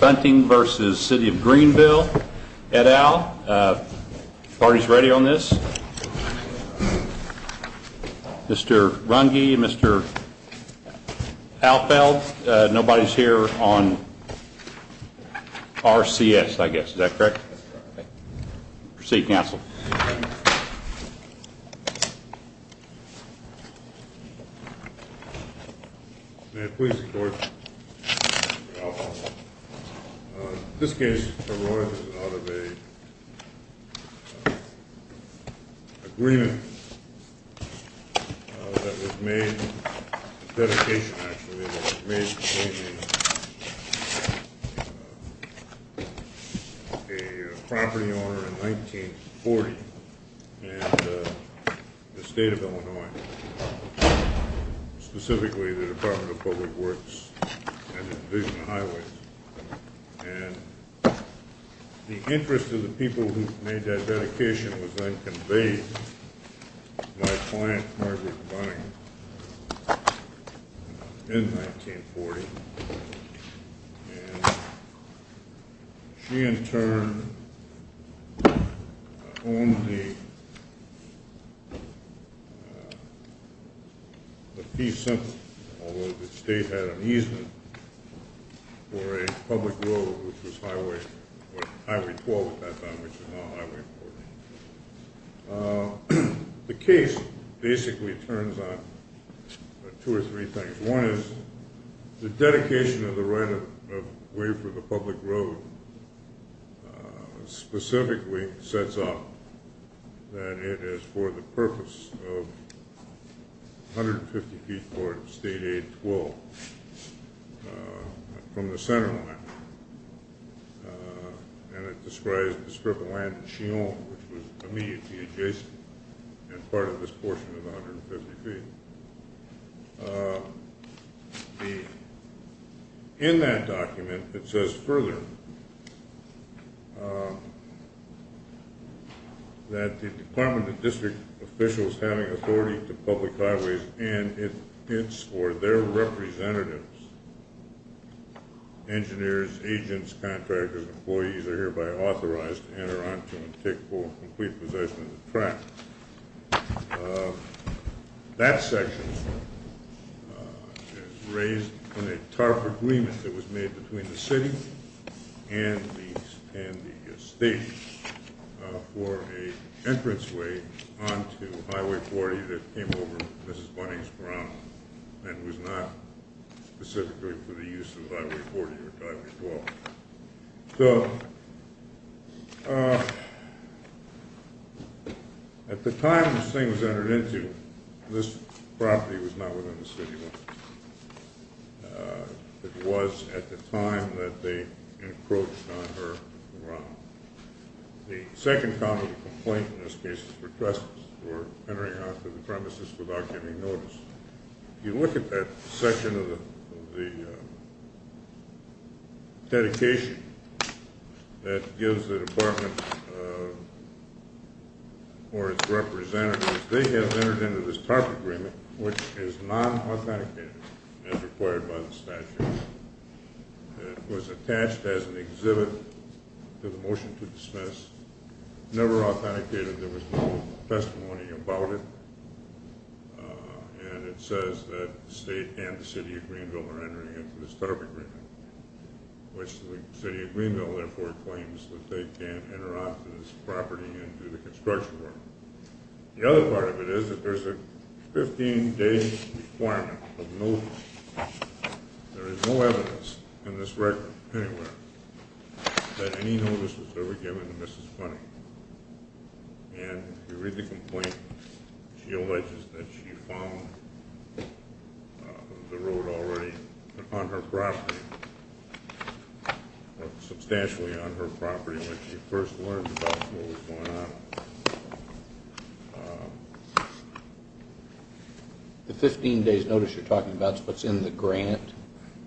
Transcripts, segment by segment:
Bunting v. City of Greenville, IL. Party's ready on this? Mr. Runge, Mr. Alfeld. Nobody's here on RCS, I guess. Is that correct? Proceed, counsel. May I please report, Mr. Alfeld? This case arises out of an agreement that was made, dedication, actually, that was made between a property owner in 1940 and the state of Illinois, specifically the Department of Public Works and the Division of Highways. And the interest of the people who made that dedication was then conveyed to my client, Margaret Bunting, in 1940. And she, in turn, owned the piece, although the state had an easement for a public road, which was Highway 12 at that time, which is now Highway 40. The case basically turns on two or three things. One is the dedication of the right of way for the public road specifically sets up that it is for the purpose of 150 feet toward State 8-12 from the center line. And it describes the strip of land that she owned, which was immediately adjacent and part of this portion of the 150 feet. In that document, it says further that the Department of District officials having authority to public highways and its or their representatives, engineers, agents, contractors, employees are hereby authorized to enter onto and take full and complete possession of the track. That section is raised in a TARP agreement that was made between the city and the state for an entranceway onto Highway 40 that came over Mrs. Bunting's ground and was not specifically for the use of Highway 40 or Highway 12. So, at the time this thing was entered into, this property was not within the city limits. It was at the time that they encroached on her ground. The second common complaint in this case was for trespassers who were entering onto the premises without giving notice. If you look at that section of the dedication that gives the Department or its representatives, they have entered into this TARP agreement, which is non-authenticated as required by the statute. It was attached as an exhibit to the motion to dismiss, never authenticated. There was no testimony about it, and it says that the state and the City of Greenville are entering into this TARP agreement, which the City of Greenville therefore claims that they can't enter onto this property and do the construction work. The other part of it is that there's a 15-day requirement of notice. There is no evidence in this record anywhere that any notice was ever given to Mrs. Bunting. And if you read the complaint, she alleges that she found the road already on her property, or substantially on her property when she first learned about what was going on. The 15-day notice you're talking about is what's in the grant?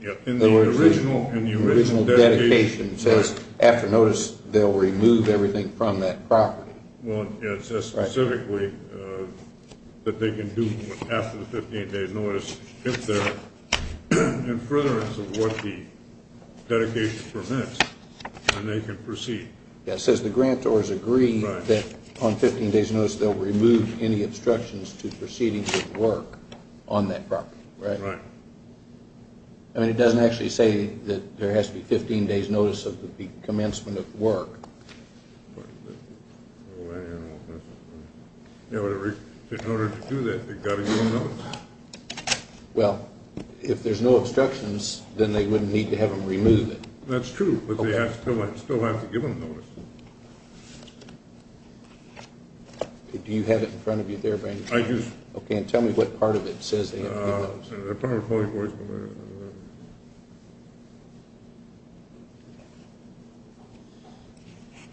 Yeah. The original dedication says after notice they'll remove everything from that property. Well, yeah, it says specifically that they can do after the 15-day notice if they're in furtherance of what the dedication permits, and they can proceed. Yeah, it says the grantors agree that on 15-day's notice they'll remove any obstructions to proceedings of work on that property, right? Right. I mean, it doesn't actually say that there has to be 15-day's notice of the commencement of work. Well, I don't know if that's what it says. Yeah, but in order to do that, they've got to give a notice. Well, if there's no obstructions, then they wouldn't need to have them remove it. That's true, but they still have to give them a notice. Do you have it in front of you there, Brandon? I do. Okay, and tell me what part of it says they have to give a notice.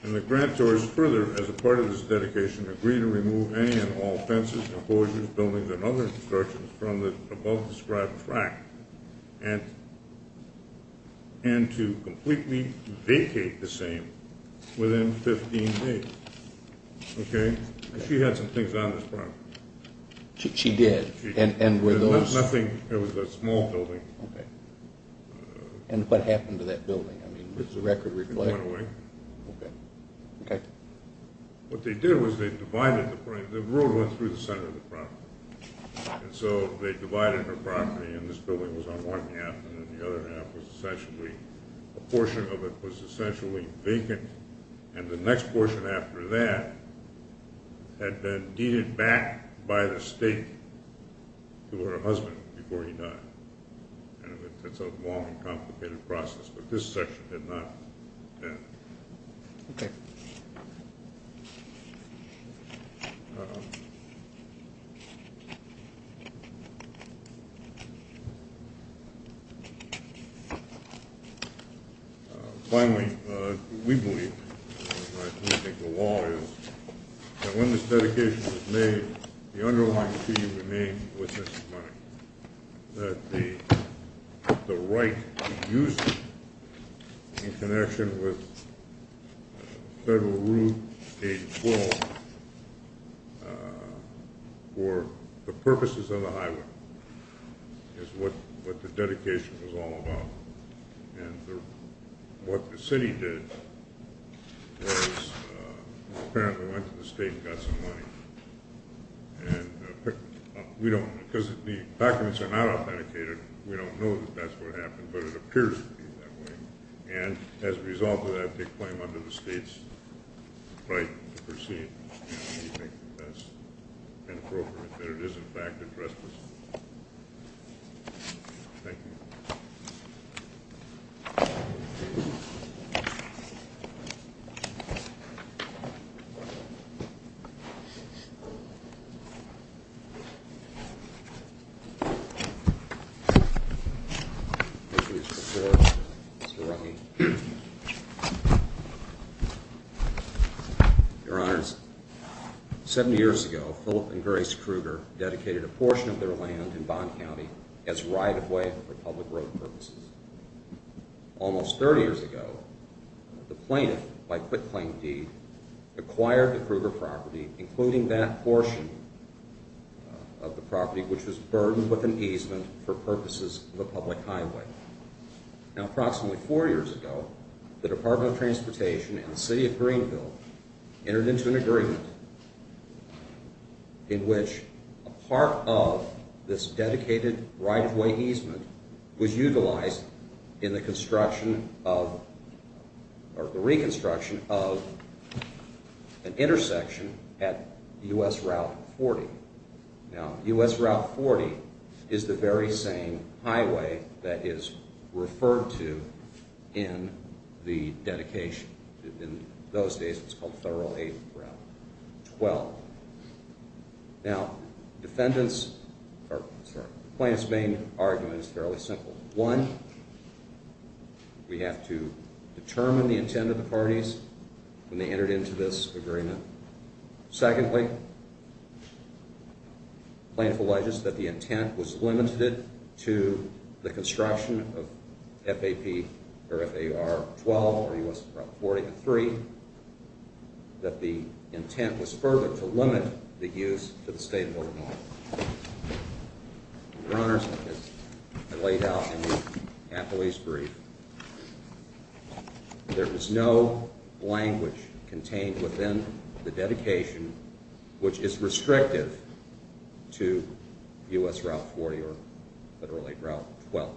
And the grantors further, as a part of this dedication, agree to remove any and all fences, composures, buildings, and other obstructions from the above-described tract, and to completely vacate the same within 15 days, okay? She had some things on this property. She did. It was a small building. Okay. And what happened to that building? I mean, was the record reflected? It went away. Okay. Okay. What they did was they divided the property. The road went through the center of the property, and so they divided her property, and this building was on one half, and then the other half was essentially, a portion of it was essentially vacant, and the next portion after that had been deeded back by the state to her husband before he died, and it's a long and complicated process, but this section did not. Okay. Finally, we believe, and I think the law is, that when this dedication is made, the underlying key remains with this money, that the right to use it in connection with Federal Route 812 for the purposes of the highway is what the dedication was all about, and what the city did was apparently went to the state and got some money, and we don't, because the documents are not authenticated, we don't know that that's what happened, but it appears to be that way, and as a result of that, they claim under the state's right to proceed, and we think that's inappropriate, that it is, in fact, addressed. Thank you. Mr. Ruggie. Your Honors, 70 years ago, Philip and Grace Krueger dedicated a portion of their land in Bond County as right-of-way for public road purposes. Almost 30 years ago, the plaintiff, by quick-claim deed, acquired the Krueger property, including the property that was on the right-of-way for public road purposes. Including that portion of the property which was burdened with an easement for purposes of a public highway. Now, approximately four years ago, the Department of Transportation and the City of Greenville entered into an agreement in which a part of this dedicated right-of-way easement was utilized in the reconstruction of an intersection at U.S. Route 40. Now, U.S. Route 40 is the very same highway that is referred to in the dedication. In those days, it was called Federal 8th Route 12. Now, plaintiff's main argument is fairly simple. One, we have to determine the intent of the parties when they entered into this agreement. Secondly, plaintiff alleges that the intent was limited to the construction of F.A.P. or F.A.R. 12 or U.S. Route 43. That the intent was further to limit the use to the state of Illinois. Your Honor, as I laid out in the appellee's brief, there is no language contained within the dedication which is restrictive to U.S. Route 40 or Federal 8th Route 12.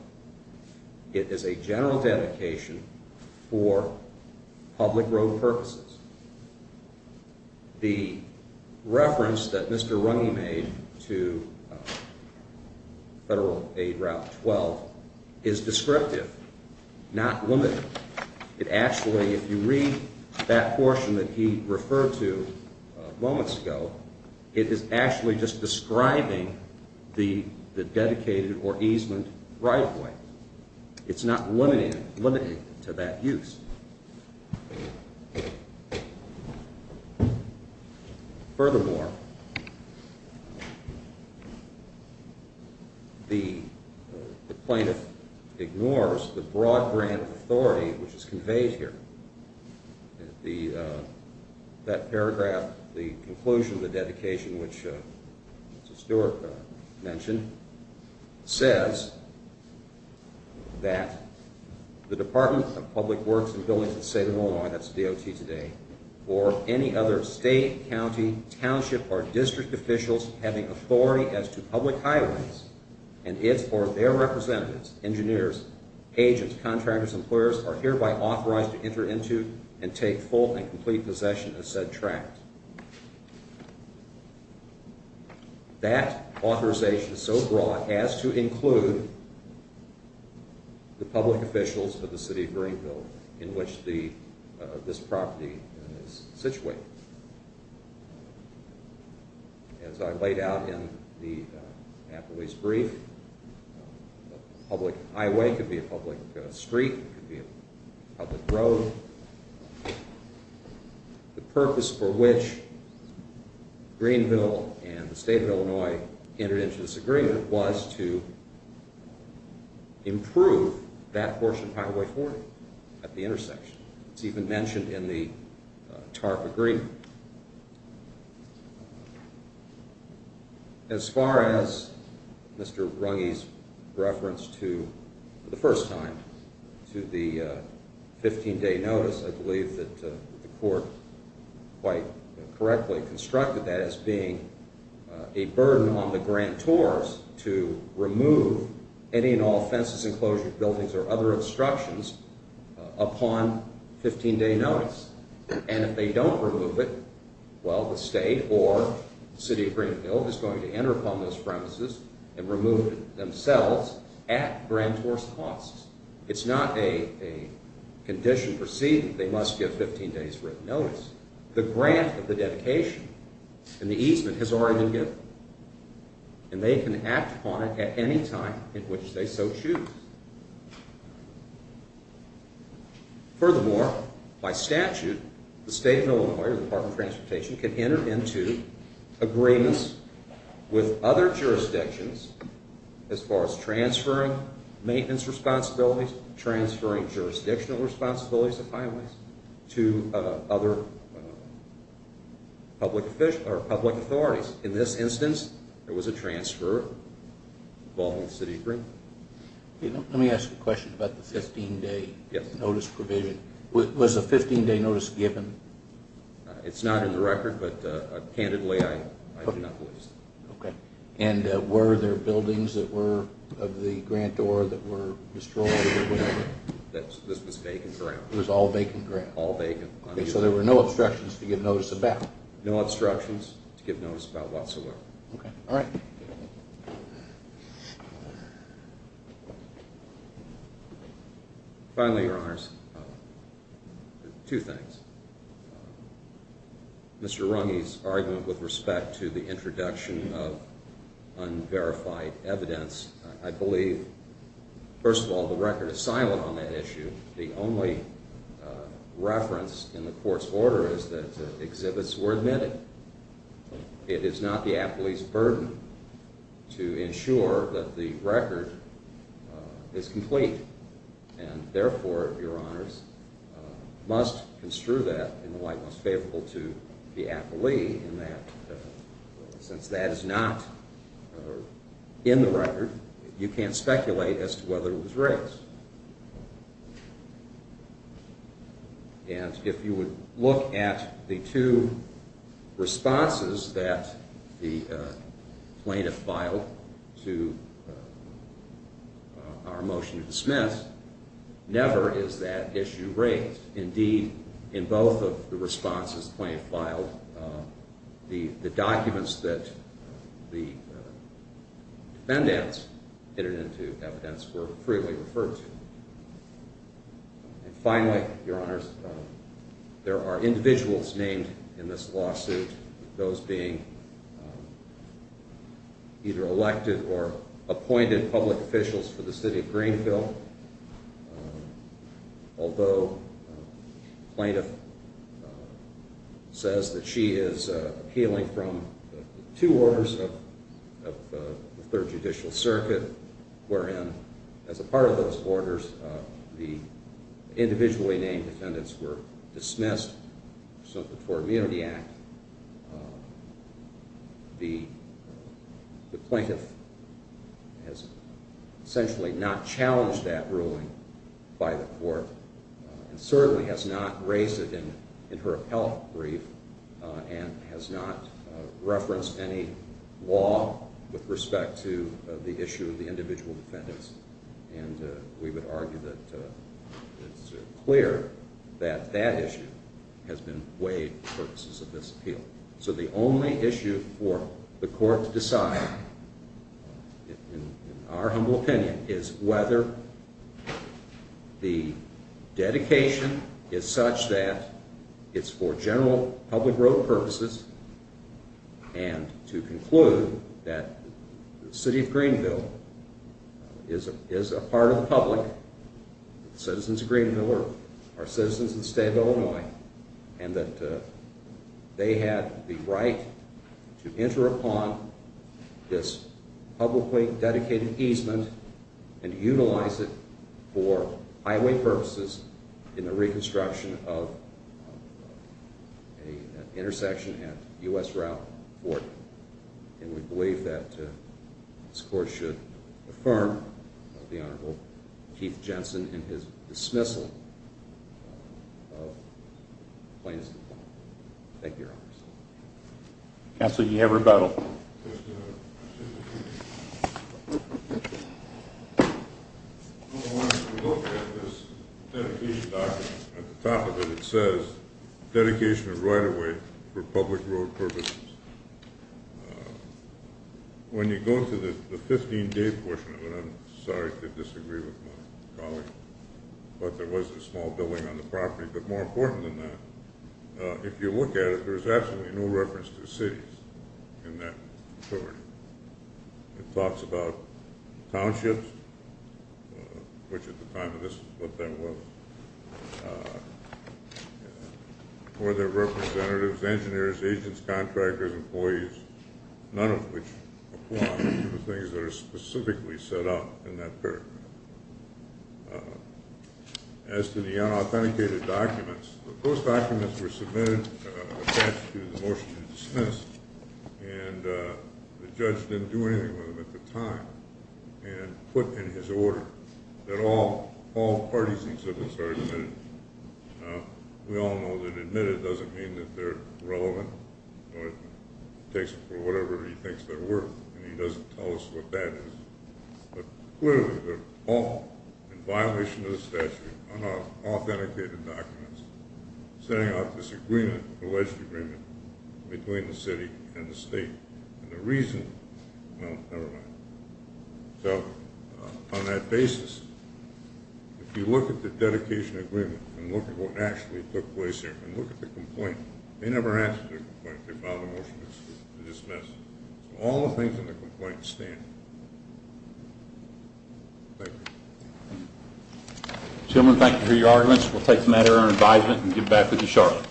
It is a general dedication for public road purposes. The reference that Mr. Runge made to Federal 8th Route 12 is descriptive, not limited. It actually, if you read that portion that he referred to moments ago, it is actually just describing the dedicated or easement right-of-way. It's not limited to that use. Furthermore, the plaintiff ignores the broad-brand authority which is conveyed here. That paragraph, the conclusion of the dedication which Mr. Stewart mentioned, says that the Department of Public Works and Buildings of the State of Illinois, that's DOT today, or any other state, county, township, or district officials having authority as to public highways and its or their representatives, engineers, agents, contractors, employers are hereby authorized to enter into and take full and complete possession of said tract. That authorization is so broad as to include the public officials of the City of Greenville in which this property is situated. As I laid out in the appellee's brief, a public highway could be a public street, it could be a public road. The purpose for which Greenville and the State of Illinois entered into this agreement was to improve that portion of Highway 40 at the intersection. It's even mentioned in the TARP agreement. As far as Mr. Runge's reference to, for the first time, to the 15-day notice, I believe that the court quite correctly constructed that as being a burden on the grantors to remove any and all fences, enclosures, buildings, or other obstructions upon 15-day notice. And if they don't remove it, well, the state or the City of Greenville is going to enter upon those premises and remove it themselves at grantor's costs. It's not a condition proceeding, they must give 15 days' written notice. The grant of the dedication and the easement has already been given. And they can act upon it at any time in which they so choose. Furthermore, by statute, the State of Illinois or the Department of Transportation can enter into agreements with other jurisdictions as far as transferring maintenance responsibilities, transferring jurisdictional responsibilities of highways to other public authorities. In this instance, there was a transfer involving the City of Greenville. Let me ask a question about the 15-day notice provision. Was a 15-day notice given? It's not in the record, but candidly, I do not believe so. And were there buildings that were of the grantor that were destroyed or whatever? This was vacant ground. It was all vacant ground? All vacant. So there were no obstructions to give notice about? No obstructions to give notice about whatsoever. Okay. All right. Finally, Your Honors, two things. Mr. Runge's argument with respect to the introduction of unverified evidence, I believe, first of all, the record is silent on that issue. The only reference in the court's order is that exhibits were admitted. It is not the appellee's burden to ensure that the record is complete. And therefore, Your Honors, must construe that in the light most favorable to the appellee in that since that is not in the record, you can't speculate as to whether it was raised. And if you would look at the two responses that the plaintiff filed to our motion to dismiss, never is that issue raised. Indeed, in both of the responses the plaintiff filed, the documents that the defendants entered into evidence were freely referred to. And finally, Your Honors, there are individuals named in this lawsuit, those being either elected or appointed public officials for the city of Greenville. Although the plaintiff says that she is appealing from two orders of the Third Judicial Circuit, wherein as a part of those orders, the individually named defendants were dismissed pursuant to the Tort Immunity Act, the plaintiff has essentially not challenged that ruling by the court, and certainly has not raised it in her appellate brief, and has not referenced any law with respect to the issue of the individual defendants. And we would argue that it's clear that that issue has been weighed for the purposes of this appeal. So the only issue for the court to decide, in our humble opinion, is whether the dedication is such that it's for general public road purposes, and to conclude that the city of Greenville is a part of the public, citizens of Greenville are citizens of the state of Illinois, and that they have the right to enter upon this publicly dedicated easement and utilize it for highway purposes in the reconstruction of an intersection at U.S. Route 40. And we believe that this court should affirm the Honorable Keith Jensen and his dismissal of the plaintiff's defendant. Thank you, Your Honors. Counsel, you have rebuttal. I want to look at this dedication document. At the top of it, it says, dedication of right-of-way for public road purposes. When you go to the 15-day portion of it, I'm sorry to disagree with my colleague, but there was a small building on the property. But more important than that, if you look at it, there's absolutely no reference to cities in that property. It talks about townships, which at the time of this was what that was, or their representatives, engineers, agents, contractors, employees, none of which apply to the things that are specifically set out in that paragraph. As to the unauthenticated documents, those documents were submitted attached to the motion to dismiss, and the judge didn't do anything with them at the time and put in his order that all parties and exhibits are admitted. Now, we all know that admitted doesn't mean that they're relevant or takes them for whatever he thinks they're worth, and he doesn't tell us what that is. But clearly, they're all in violation of the statute, unauthenticated documents, setting out this agreement, alleged agreement, between the city and the state. And the reason, well, never mind. So, on that basis, if you look at the dedication agreement, and look at what actually took place here, and look at the complaint, they never asked for a complaint, they filed a motion to dismiss it. So all the things in the complaint stand. Thank you. Gentlemen, thank you for your arguments. We'll take the matter under advisement and give it back to Mr. Charlotte.